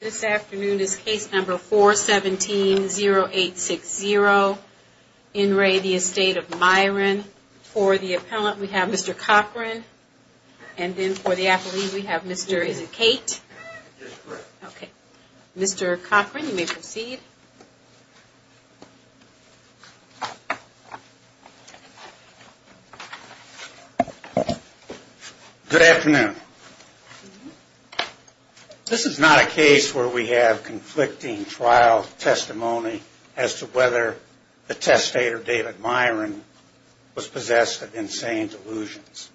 This afternoon is case number 4-17-0860. In re the Estate of Myren. For the appellant we have Mr. Cochran. And then for the appellee we have Mr. is it Kate? That's correct. Okay. Mr. Cochran you may proceed. Good afternoon. This is not a case where we have conflicting trial testimony as to whether the testator David Myren was possessed of insane delusions.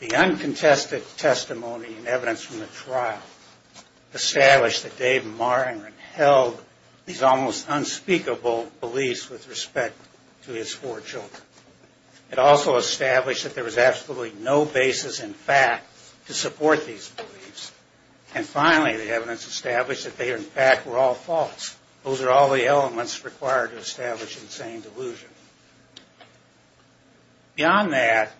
The uncontested testimony and evidence from the trial established that David Myren held these almost unspeakable beliefs with respect to his four children. It also established that there was absolutely no basis in fact to support these beliefs. And finally the evidence established that they in fact were all false. Those are all the elements required to establish insane delusion. Beyond that,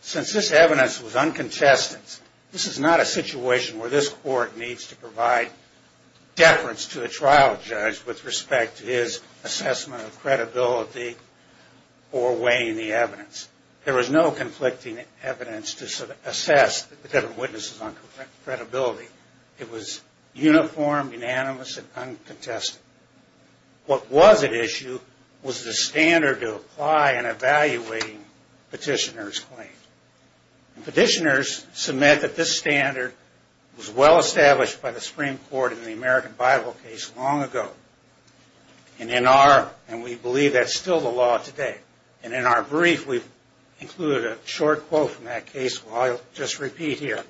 since this evidence was uncontested, this is not a situation where this court needs to provide deference to a trial judge with respect to his assessment of credibility or weighing the evidence. There was no conflicting evidence to assess the different witnesses on credibility. It was uniform, unanimous, and uncontested. What was at issue was the standard to apply in evaluating petitioner's claim. Petitioners submit that this standard was well established by the Supreme Court in the American Bible case long ago. And in our, and we believe that's still the law today, and in our brief we've included a short quote from that case, which I'll just repeat here,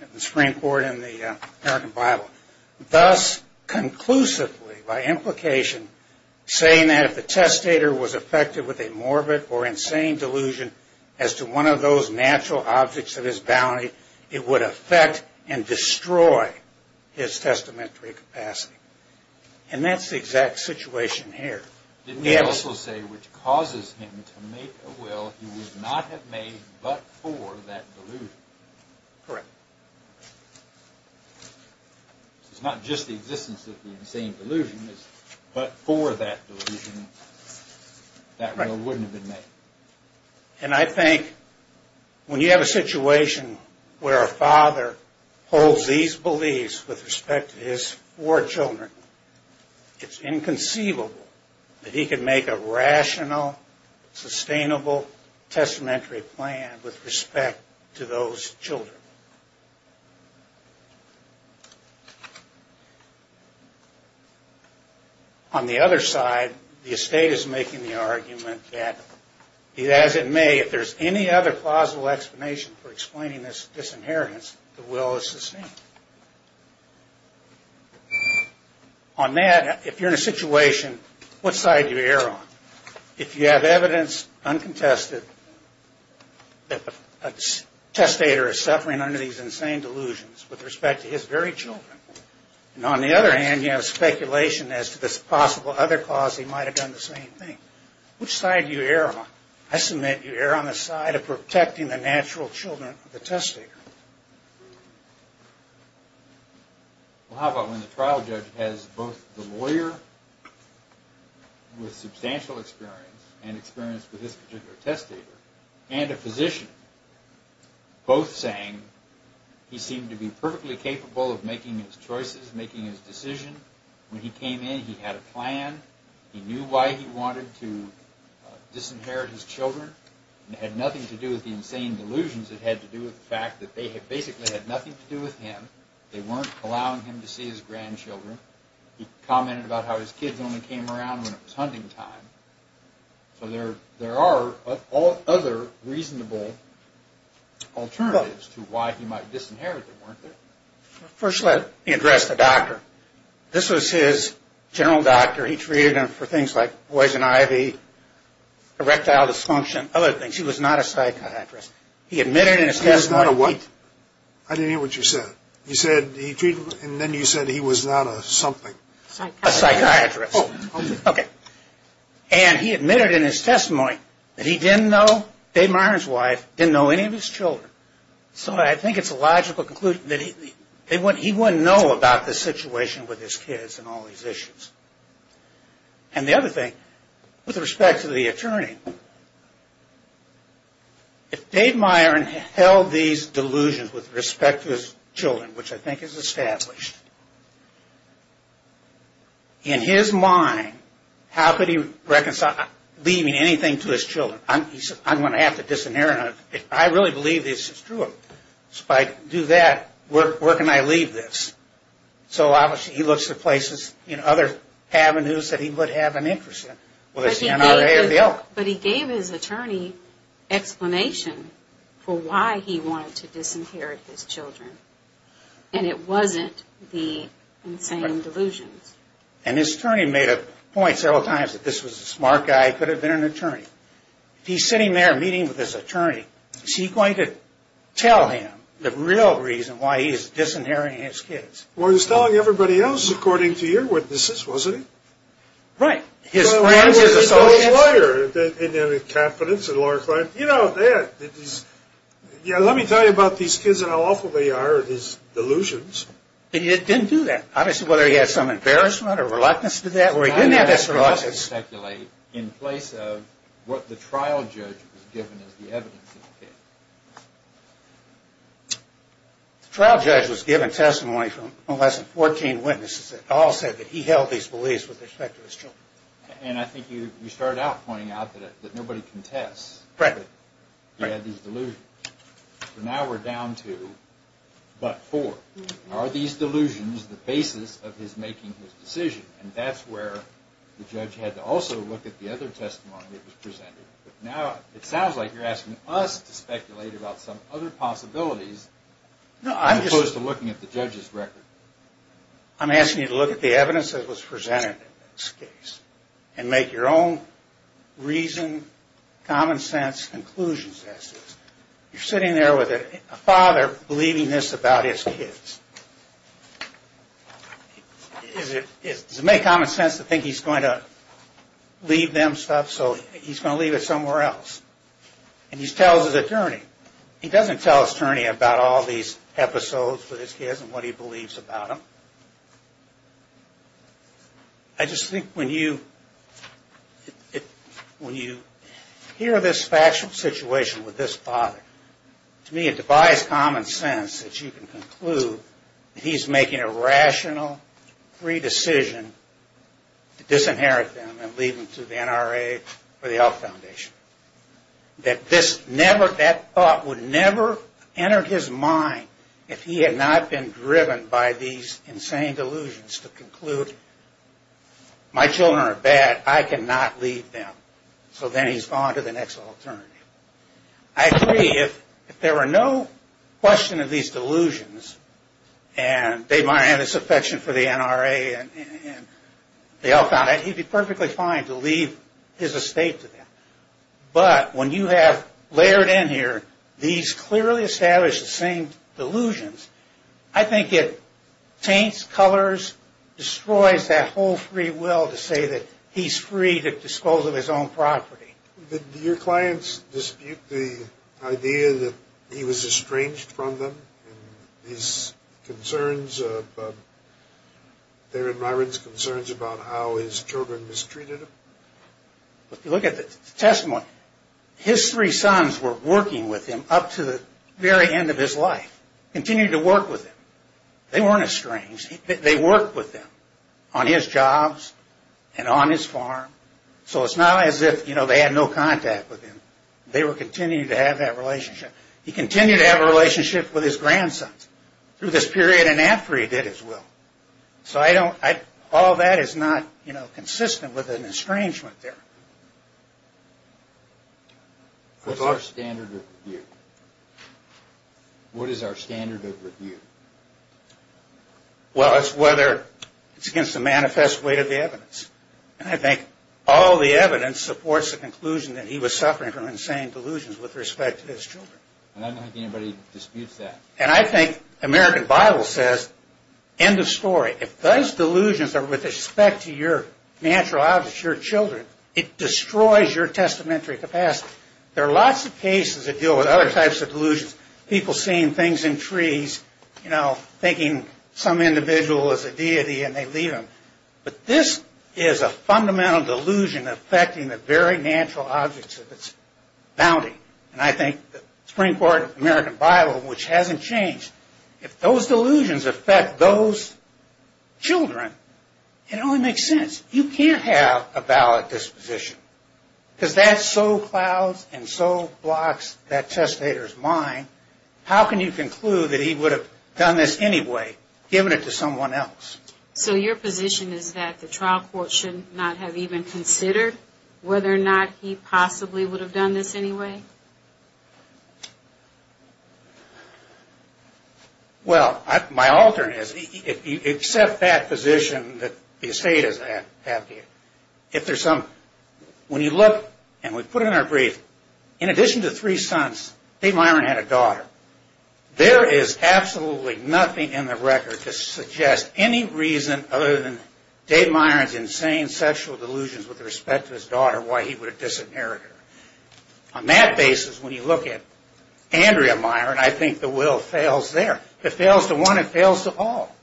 in the Supreme Court in the American Bible. Thus conclusively, by implication, saying that if the testator was affected with a morbid or insane delusion as to one of those natural objects of his bounty, it would affect and destroy his testamentary capacity. And that's the exact situation here. Didn't he also say, which causes him to make a will he would not have made but for that delusion? Correct. It's not just the existence of the insane delusion, it's but for that delusion, that will wouldn't have been made. And I think when you have a situation where a father holds these beliefs with respect to his four children, it's inconceivable that he could make a rational, sustainable, testamentary plan with respect to those children. On the other side, the estate is making the argument that, as it may, if there's any other plausible explanation for explaining this inheritance, the will is sustained. On that, if you're in a situation, what side do you err on? If you have evidence, uncontested, that a testator is suffering under these insane delusions with respect to his very children, and on the other hand you have speculation as to this possible other cause, he might have done the same thing. Which side do you err on? I submit you err on the side of protecting the natural children of the testator. Well, how about when the trial judge has both the lawyer with substantial experience, and experience with this particular testator, and a physician, both saying he seemed to be perfectly capable of making his choices, making his decision. When he came in, he had a plan. He knew why he wanted to disinherit his children. It had nothing to do with the insane delusions. It had to do with the fact that they basically had nothing to do with him. They weren't allowing him to see his grandchildren. He commented about how his kids only came around when it was hunting time. So there are other reasonable alternatives to why he might disinherit them, weren't there? First, let me address the doctor. This was his general doctor. He treated him for things like poison ivy, erectile dysfunction, other things. He was not a psychiatrist. He admitted in his testimony... I didn't hear what you said. You said he treated him, and then you said he was not a something. A psychiatrist. Okay. And he admitted in his testimony that he didn't know, Dave Myron's wife, didn't know any of his children. So I think it's a logical conclusion that he wouldn't know about the situation with his kids and all these issues. And the other thing, with respect to the attorney, if Dave Myron held these delusions with respect to his children, which I think is established, in his mind, how could he leave anything to his children? He said, I'm going to have to disinherit them. I really believe this is true. If I do that, where can I leave this? So obviously he looks at places, other avenues that he would have an interest in. But he gave his attorney explanation for why he wanted to disinherit his children. And it wasn't the insane delusions. And his attorney made a point several times that this was a smart guy, could have been an attorney. He's sitting there meeting with his attorney. Is he going to tell him the real reason why he is disinheriting his kids? Well, he was telling everybody else, according to your witnesses, wasn't he? Right. His friends, his associates... Well, he was still a lawyer, and he had a confidence in Laura Klein. You know, let me tell you about these kids and how awful they are, these delusions. And he didn't do that. Obviously, whether he had some embarrassment or reluctance to do that, or he didn't have this reluctance... How do you speculate in place of what the trial judge was given as the evidence? The trial judge was given testimony from less than 14 witnesses that all said that he held these beliefs with respect to his children. And I think you started out pointing out that nobody contests that he had these delusions. So now we're down to but four. Are these delusions the basis of his making his decision? And that's where the judge had to also look at the other testimony that was presented. But now it sounds like you're asking us to speculate about some other possibilities as opposed to looking at the judge's record. I'm asking you to look at the evidence that was presented in this case and make your own reason, common sense conclusions as to this. You're sitting there with a father believing this about his kids. Does it make common sense to think he's going to leave them stuff, so he's going to leave it somewhere else? And he tells his attorney. He doesn't tell his attorney about all these episodes with his kids and what he believes about them. I just think when you hear this factual situation with this father, to me it defies common sense that you can conclude that he's making a rational, free decision to disinherit them and leave them to the NRA or the Health Foundation. That this never, that thought would never enter his mind if he had not been driven by these insane delusions to conclude my children are bad, I cannot leave them. So then he's gone to the next alternative. I agree if there were no question of these delusions and they might have this affection for the NRA and the Health Foundation, he'd be perfectly fine to leave his estate to them. But when you have layered in here these clearly established, the same delusions, I think it paints colors, destroys that whole free will to say that he's free to dispose of his own property. Do your clients dispute the idea that he was estranged from them? These concerns, their and Myron's concerns about how his children mistreated him? If you look at the testimony, his three sons were working with him up to the very end of his life. Continued to work with him. They weren't estranged. They worked with him on his jobs and on his farm. So it's not as if they had no contact with him. They were continuing to have that relationship. He continued to have a relationship with his grandsons through this period and after he did as well. So I don't, all that is not consistent with an estrangement there. What's our standard of review? What is our standard of review? Well, it's whether it's against the manifest weight of the evidence. And I think all the evidence supports the conclusion that he was suffering from insane delusions with respect to his children. I don't think anybody disputes that. And I think the American Bible says, end of story, if those delusions are with respect to your natural objects, your children, it destroys your testamentary capacity. There are lots of cases that deal with other types of delusions. People seeing things in trees, you know, thinking some individual is a deity and they leave them. But this is a fundamental delusion affecting the very natural objects of its bounty. And I think the Supreme Court American Bible, which hasn't changed, if those delusions affect those children, it only makes sense. You can't have a valid disposition. Because that so clouds and so blocks that testator's mind. How can you conclude that he would have done this anyway, given it to someone else? So your position is that the trial court should not have even considered whether or not he possibly would have done this anyway? Well, my alternate is, except that position that the estate is at, if there's some... When you look, and we put it in our brief, in addition to three sons, Dave Myron had a daughter. There is absolutely nothing in the record to suggest any reason other than Dave Myron's insane sexual delusions with respect to his daughter why he would have disinherited her. On that basis, when you look at Andrea Myron, I think the will fails there. If it fails to one, it fails to all.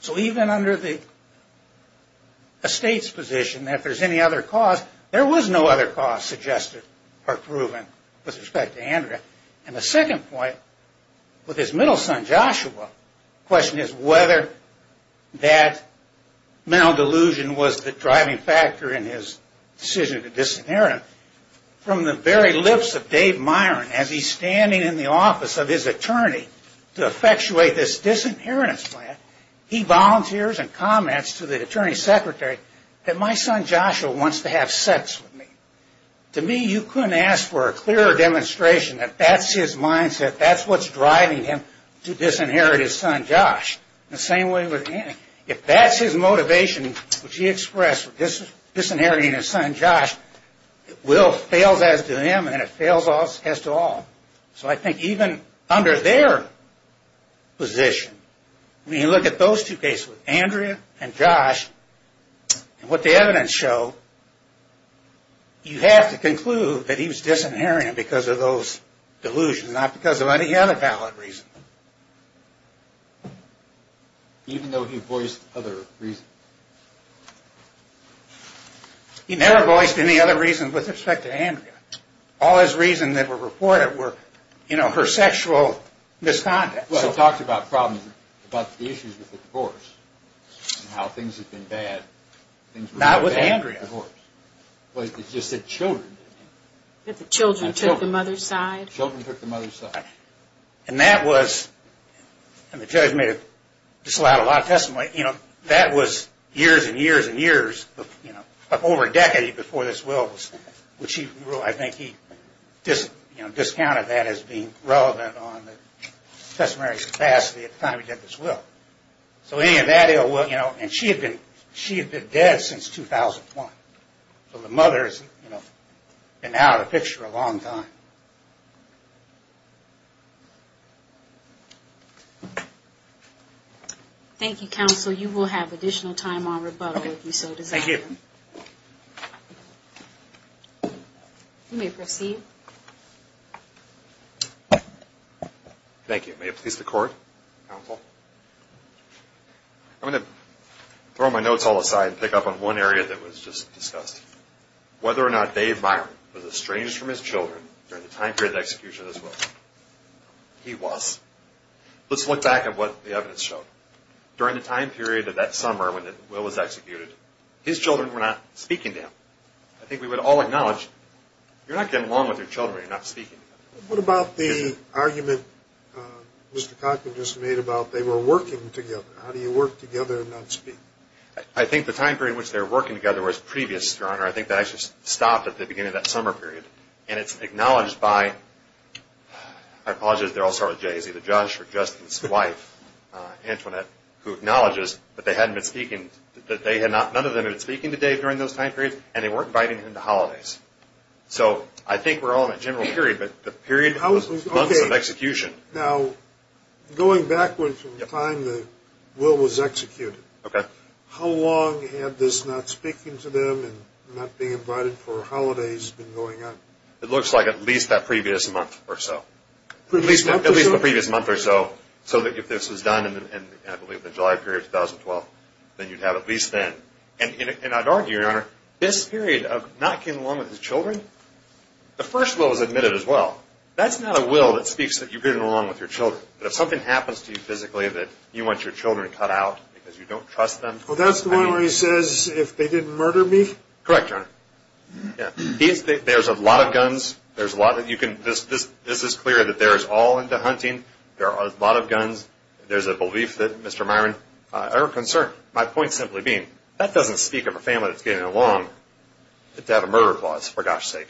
So even under the estate's position, if there's any other cause, there was no other cause suggested or proven with respect to Andrea. And the second point, with his middle son Joshua, the question is whether that mental delusion was the driving factor in his decision to disinherit him. From the very lips of Dave Myron, as he's standing in the office of his attorney to effectuate this disinheritance plan, he volunteers and comments to the attorney secretary that my son Joshua wants to have sex with me. To me, you couldn't ask for a clearer demonstration that that's his mindset. That's what's driving him to disinherit his son Josh. The same way with Andrea. If that's his motivation, which he expressed with disinheriting his son Josh, the will fails as to him and it fails as to all. So I think even under their position, when you look at those two cases, Andrea and Josh, and what the evidence showed, you have to conclude that he was disinheriting him because of those delusions, not because of any other valid reason. Even though he voiced other reasons? He never voiced any other reason with respect to Andrea. All his reasons that were reported were her sexual misconduct. He talked about problems, about the issues with the divorce and how things have been bad. Not with Andrea. It's just that children did it. That the children took the mother's side. Children took the mother's side. And that was, and the judge made a lot of testimony, that was years and years and years, over a decade before this will was signed. I think he discounted that as being relevant on the testimony capacity at the time he did this will. So any of that, and she had been dead since 2001. So the mother has been out of the picture a long time. Thank you, counsel. You will have additional time on rebuttal if you so desire. Thank you. You may proceed. Thank you. May it please the court. Counsel. I'm going to throw my notes all aside and pick up on one area that was just discussed. Whether or not Dave Byron was estranged from his children during the time period of execution of this will. He was. Let's look back at what the evidence showed. During the time period of that summer when the will was executed, his children were not speaking to him. I think we would all acknowledge, you're not getting along with your children when you're not speaking to them. What about the argument Mr. Cochran just made about they were working together? How do you work together and not speak? I think the time period in which they were working together was previous, Your Honor. I think that actually stopped at the beginning of that summer period. And it's acknowledged by, I apologize, they're all sort of jays, either Josh or Justin's wife, Antoinette, who acknowledges that none of them had been speaking to Dave during those time periods and they weren't inviting him to holidays. So I think we're all in a general period, but the period was months of execution. Now, going backwards from the time the will was executed, how long had this not speaking to them and not being invited for holidays been going on? It looks like at least that previous month or so. Previous month or so? At least the previous month or so, so that if this was done in, I believe, the July period of 2012, then you'd have at least then. And I'd argue, Your Honor, this period of not getting along with his children, the first will was admitted as well. That's not a will that speaks that you're getting along with your children. But if something happens to you physically that you want your children to cut out because you don't trust them. Well, that's the one where he says, if they didn't murder me? Correct, Your Honor. There's a lot of guns. This is clear that they're all into hunting. There are a lot of guns. There's a belief that Mr. Myron, our concern, my point simply being, that doesn't speak of a family that's getting along to have a murder clause, for gosh sake.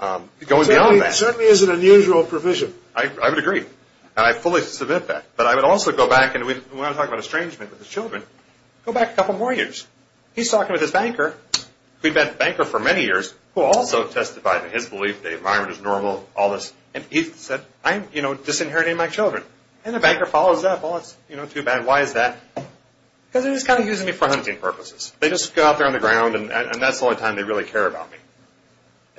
Going beyond that. It certainly is an unusual provision. I would agree. And I fully submit that. But I would also go back, and we want to talk about estrangement with his children. Go back a couple more years. He's talking with his banker, who'd been a banker for many years, who also testified in his belief that Myron is normal, all this. And he said, I'm disinheriting my children. And the banker follows up. Well, it's too bad. Why is that? Because they're just kind of using me for hunting purposes. They just go out there on the ground, and that's the only time they really care about me.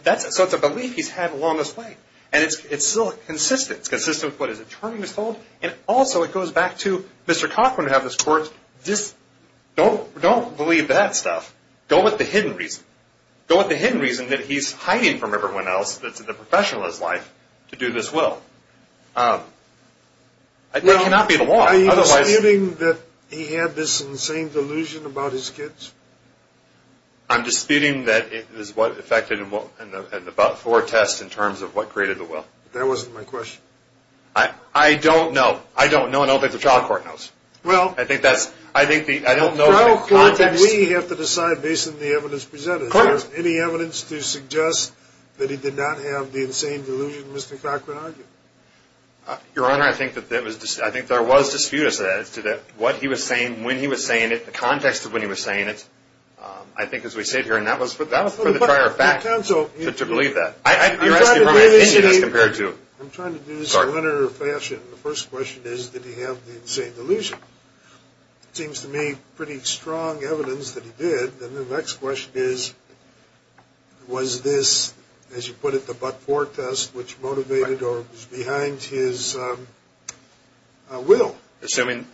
So it's a belief he's had along this way. And it's still consistent. It's consistent with what his attorney has told. And also it goes back to Mr. Cochran had this court. Don't believe that stuff. Go with the hidden reason. Go with the hidden reason that he's hiding from everyone else that's in the professionalist life to do this will. It cannot be the law. Are you disputing that he had this insane delusion about his kids? I'm disputing that it is what affected him in about four tests in terms of what created the will. That wasn't my question. I don't know. I don't know. I don't think the trial court knows. Well, we have to decide based on the evidence presented. Is there any evidence to suggest that he did not have the insane delusion Mr. Cochran argued? Your Honor, I think there was dispute as to what he was saying, when he was saying it, the context of when he was saying it. I think as we sit here, and that was for the prior fact to believe that. I'm trying to do this in a linear fashion. The first question is, did he have the insane delusion? It seems to me pretty strong evidence that he did. And the next question is, was this, as you put it, the but-for test which motivated or was behind his will? Assuming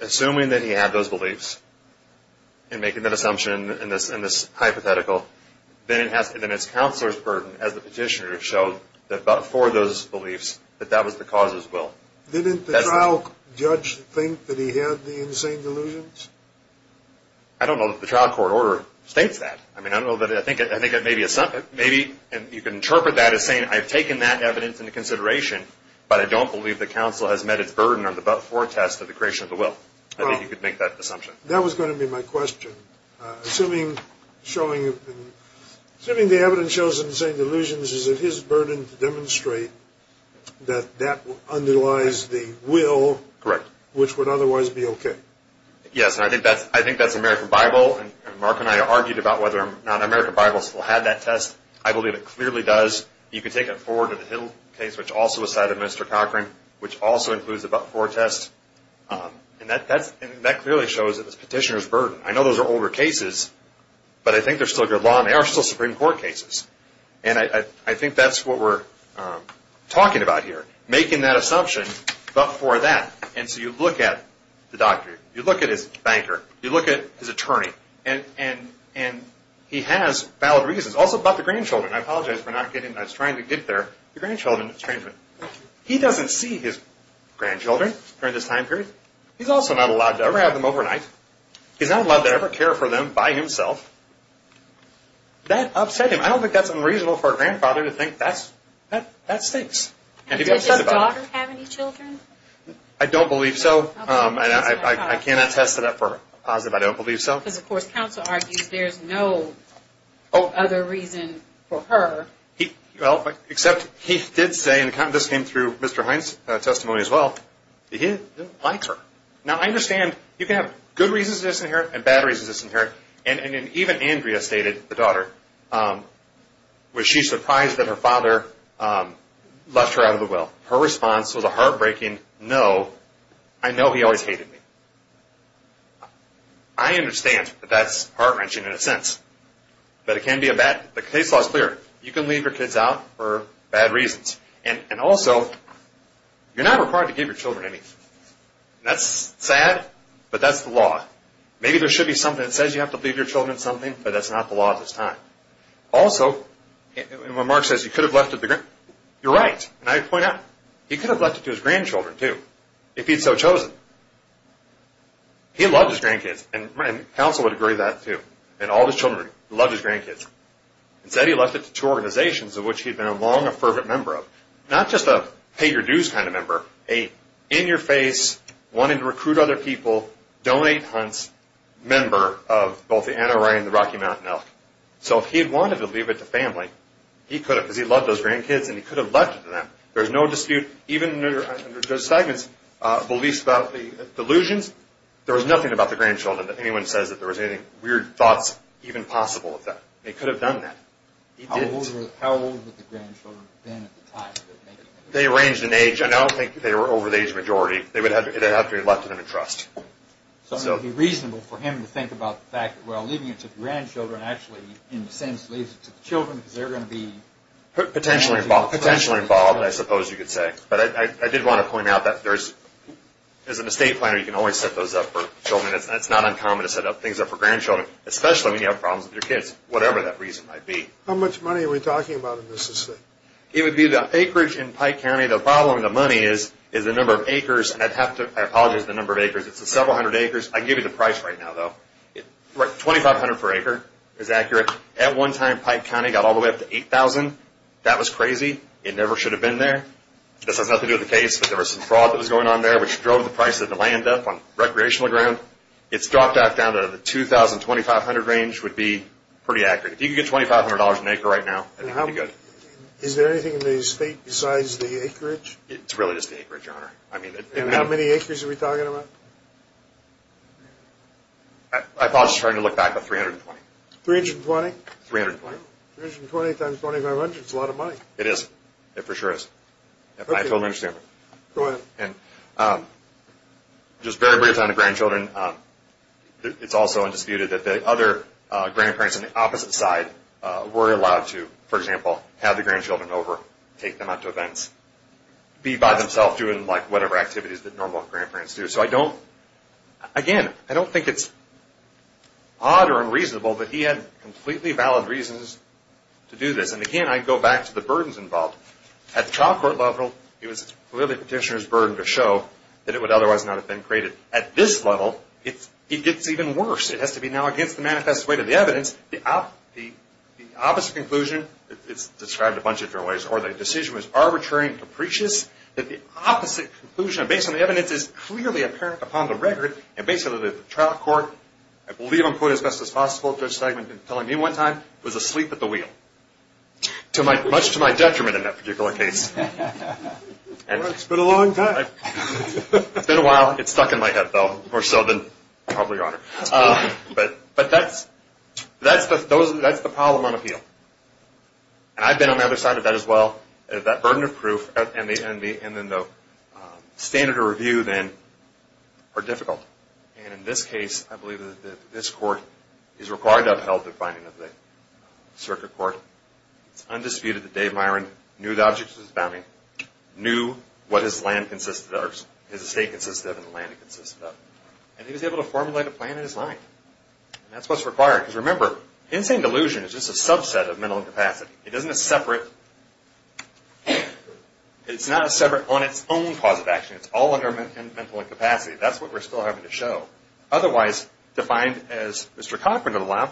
that he had those beliefs and making that assumption in this hypothetical, then it's counselor's burden, as the petitioner showed, that but-for those beliefs, that that was the cause of his will. Didn't the trial judge think that he had the insane delusions? I don't know that the trial court order states that. I mean, I don't know. I think maybe you can interpret that as saying I've taken that evidence into consideration, but I don't believe the counsel has met its burden on the but-for test of the creation of the will. I think you could make that assumption. That was going to be my question. Assuming the evidence shows the insane delusions, is it his burden to demonstrate that that underlies the will which would otherwise be okay? Yes, and I think that's American Bible. Mark and I argued about whether or not American Bible still had that test. I believe it clearly does. You could take it forward to the Hill case, which also was cited in Mr. Cochran, which also includes the but-for test. And that clearly shows that it's petitioner's burden. I know those are older cases, but I think they're still good law, and they are still Supreme Court cases. And I think that's what we're talking about here, making that assumption, but-for that. And so you look at the doctor. You look at his banker. You look at his attorney. And he has valid reasons, also about the grandchildren. I apologize for not getting, I was trying to get there, the grandchildren. He doesn't see his grandchildren during this time period. He's also not allowed to ever have them overnight. He's not allowed to ever care for them by himself. That upset him. I don't think that's unreasonable for a grandfather to think that stinks. Does his daughter have any children? I don't believe so. I cannot attest to that for a positive. I don't believe so. Because, of course, counsel argues there's no other reason for her. Well, except he did say, and this came through Mr. Hines' testimony as well, that he likes her. Now, I understand you can have good reasons to disinherit and bad reasons to disinherit. And even Andrea stated, the daughter, was she surprised that her father left her out of the will. Her response was a heartbreaking no. I know he always hated me. I understand that that's heart-wrenching in a sense. But it can be a bad-the case law is clear. You can leave your kids out for bad reasons. And also, you're not required to give your children anything. That's sad, but that's the law. Maybe there should be something that says you have to leave your children something, but that's not the law at this time. Also, when Mark says he could have left it to his grandchildren, you're right. And I point out, he could have left it to his grandchildren, too, if he'd so chosen. He loved his grandkids, and counsel would agree with that, too. And all of his children loved his grandkids. Instead, he left it to two organizations, of which he'd been a long-affirmed member of. Not just a pay-your-dues kind of member, a in-your-face, wanting-to-recruit-other-people, donate-hunts member of both the Anaheim and the Rocky Mountain Elk. So if he had wanted to leave it to family, he could have, because he loved those grandkids, and he could have left it to them. There's no dispute. Even under Judge Fagan's beliefs about the delusions, there was nothing about the grandchildren that anyone says that there was any weird thoughts even possible of that. He could have done that. He didn't. How old were the grandchildren then at the time? They ranged in age. I don't think they were over the age majority. It would have to be left to them in trust. So it would be reasonable for him to think about the fact that, well, leaving it to the grandchildren actually, in a sense, leaves it to the children, because they're going to be... Potentially involved, I suppose you could say. But I did want to point out that, as an estate planner, you can always set those up for children. It's not uncommon to set things up for grandchildren, especially when you have problems with your kids, whatever that reason might be. How much money are we talking about in this estate? It would be the acreage in Pike County. The problem with the money is the number of acres. I have to apologize for the number of acres. It's several hundred acres. I can give you the price right now, though. $2,500 per acre is accurate. At one time, Pike County got all the way up to $8,000. That was crazy. It never should have been there. This has nothing to do with the case, but there was some fraud that was going on there, which drove the price of the land up on recreational ground. It's dropped back down to the $2,500 range would be pretty accurate. If you could get $2,500 an acre right now, I think it would be good. Is there anything in the estate besides the acreage? It's really just the acreage, Your Honor. How many acres are we talking about? I apologize for trying to look back, but 320. 320? 320. 320 times 2,500 is a lot of money. It is. It for sure is. I totally understand. Go ahead. Just very briefly on the grandchildren. It's also undisputed that the other grandparents on the opposite side were allowed to, for example, have the grandchildren over, take them out to events, be by themselves, doing whatever activities that normal grandparents do. Again, I don't think it's odd or unreasonable that he had completely valid reasons to do this. Again, I go back to the burdens involved. At the trial court level, it was clearly the petitioner's burden to show that it would otherwise not have been created. At this level, it gets even worse. It has to be now against the manifest way to the evidence. The opposite conclusion is described a bunch of different ways. Or the decision was arbitrary and capricious that the opposite conclusion, based on the evidence, is clearly apparent upon the record. And basically, the trial court, I believe in quote as best as possible, Judge Segmenton telling me one time, was asleep at the wheel. Much to my detriment in that particular case. It's been a long time. It's been a while. It's stuck in my head, though, more so than probably on it. But that's the problem on appeal. And I've been on the other side of that as well. That burden of proof and then the standard of review then are difficult. And in this case, I believe that this court is required to upheld the finding of the circuit court. It's undisputed that Dave Myron knew the object of his bounty, knew what his land consisted of, his estate consisted of, and the land it consisted of. And he was able to formulate a plan in his mind. And that's what's required. Because remember, insane delusion is just a subset of mental incapacity. It isn't a separate. It's not a separate on its own cause of action. It's all under mental incapacity. That's what we're still having to show. Otherwise, defined as Mr. Cochran in the lab,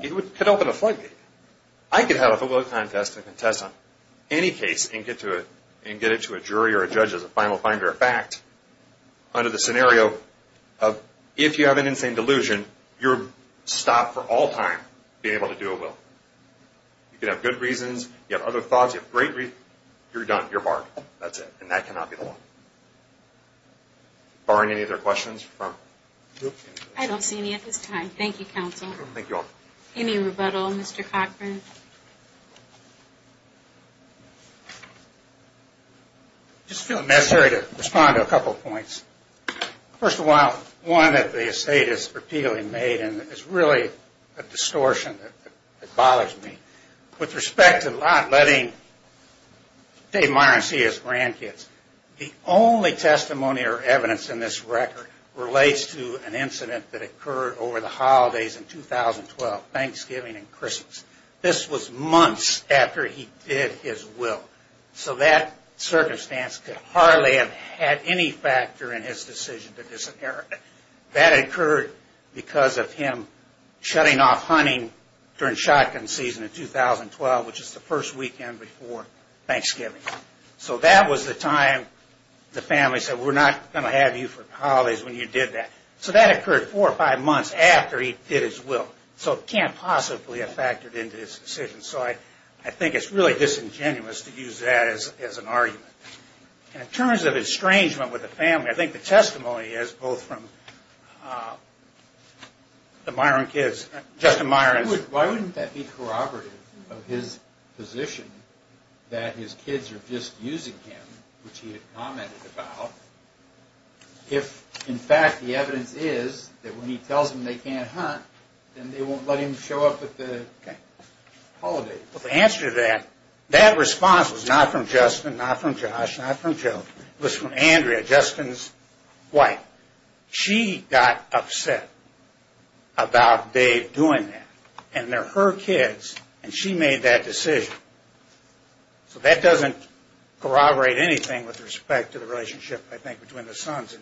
it could open a floodgate. I could have a football contest and contest on any case and get it to a jury or a judge as a final find or a fact under the scenario of, if you have an insane delusion, you're stopped for all time being able to do a will. You could have good reasons. You have other thoughts. You have great reasons. You're done. You're barred. That's it. And that cannot be the law. Barring any other questions from the group? I don't see any at this time. Thank you, counsel. Thank you all. Any rebuttal, Mr. Cochran? I just feel it necessary to respond to a couple of points. First of all, one that the estate has repeatedly made, and it's really a distortion that bothers me. With respect to not letting Dave Myron see his grandkids, the only testimony or evidence in this record relates to an incident that occurred over the holidays in 2012, Thanksgiving and Christmas. This was months after he did his will. So that circumstance could hardly have had any factor in his decision to disinherit. That occurred because of him shutting off hunting during shotgun season in 2012, which is the first weekend before Thanksgiving. So that was the time the family said, we're not going to have you for the holidays when you did that. So that occurred four or five months after he did his will. So it can't possibly have factored into his decision. So I think it's really disingenuous to use that as an argument. In terms of estrangement with the family, I think the testimony is both from the Myron kids, Justin Myron. Why wouldn't that be corroborative of his position that his kids are just using him, which he had commented about, if in fact the evidence is that when he tells them they can't hunt, then they won't let him show up at the holidays? Well, the answer to that, that response was not from Justin, not from Josh, not from Joe. It was from Andrea, Justin's wife. She got upset about Dave doing that. And they're her kids, and she made that decision. So that doesn't corroborate anything with respect to the relationship, I think, between the sons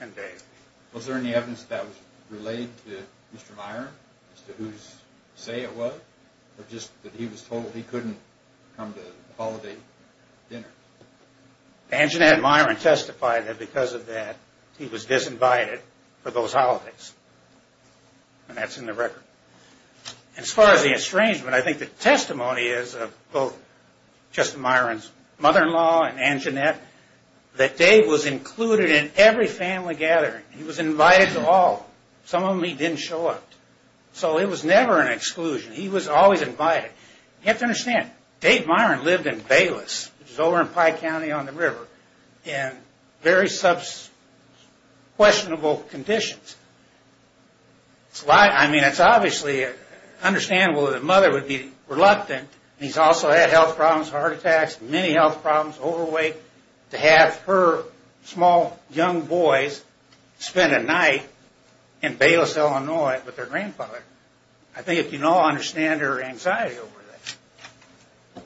and Dave. Was there any evidence that was related to Mr. Myron as to whose say it was or just that he was told he couldn't come to the holiday dinner? Anginette and Myron testified that because of that, he was disinvited for those holidays. And that's in the record. As far as the estrangement, I think the testimony is of both Justin Myron's mother-in-law and Anginette, that Dave was included in every family gathering. He was invited to all. Some of them he didn't show up to. So it was never an exclusion. He was always invited. You have to understand, Dave Myron lived in Bayless, which is over in Pike County on the river, in very questionable conditions. I mean, it's obviously understandable that a mother would be reluctant, and he's also had health problems, heart attacks, many health problems, to have her small young boys spend a night in Bayless, Illinois, with their grandfather. I think you can all understand her anxiety over that.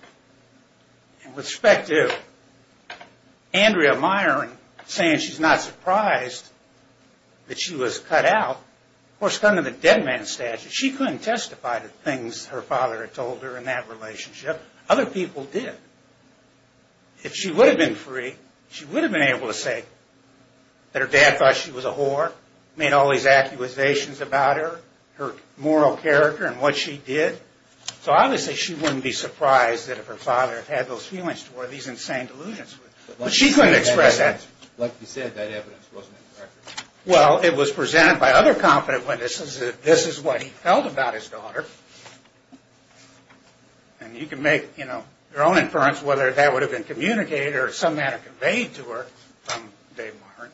With respect to Andrea Myron saying she's not surprised that she was cut out, of course, coming to the dead man's statue, she couldn't testify to things her father had told her in that relationship. Other people did. If she would have been free, she would have been able to say that her dad thought she was a whore, made all these accusations about her, her moral character and what she did. So obviously she wouldn't be surprised that if her father had had those feelings toward these insane delusions. But she couldn't express that. Like you said, that evidence wasn't in the record. Well, it was presented by other competent witnesses that this is what he felt about his daughter. And you can make your own inference whether that would have been communicated or some manner conveyed to her from Dave Myron.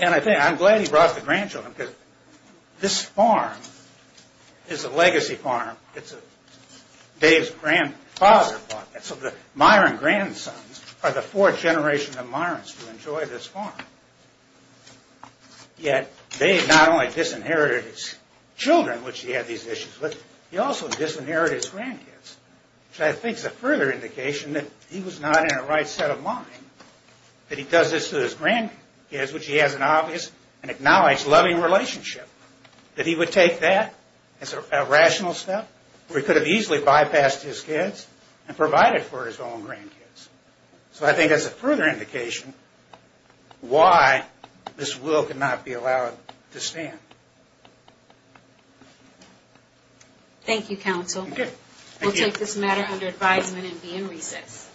And I'm glad he brought the grandchildren because this farm is a legacy farm. It's Dave's grandfather's farm. So the Myron grandsons are the fourth generation of Myrons who enjoy this farm. Yet Dave not only disinherited his children, which he had these issues with, he also disinherited his grandkids. Which I think is a further indication that he was not in the right set of mind that he does this to his grandkids, which he has an obvious and acknowledged loving relationship. That he would take that as a rational step where he could have easily bypassed his kids and provided for his own grandkids. So I think that's a further indication why this will could not be allowed to stand. Thank you, counsel. Thank you. We'll take this matter under advisement and be in recess.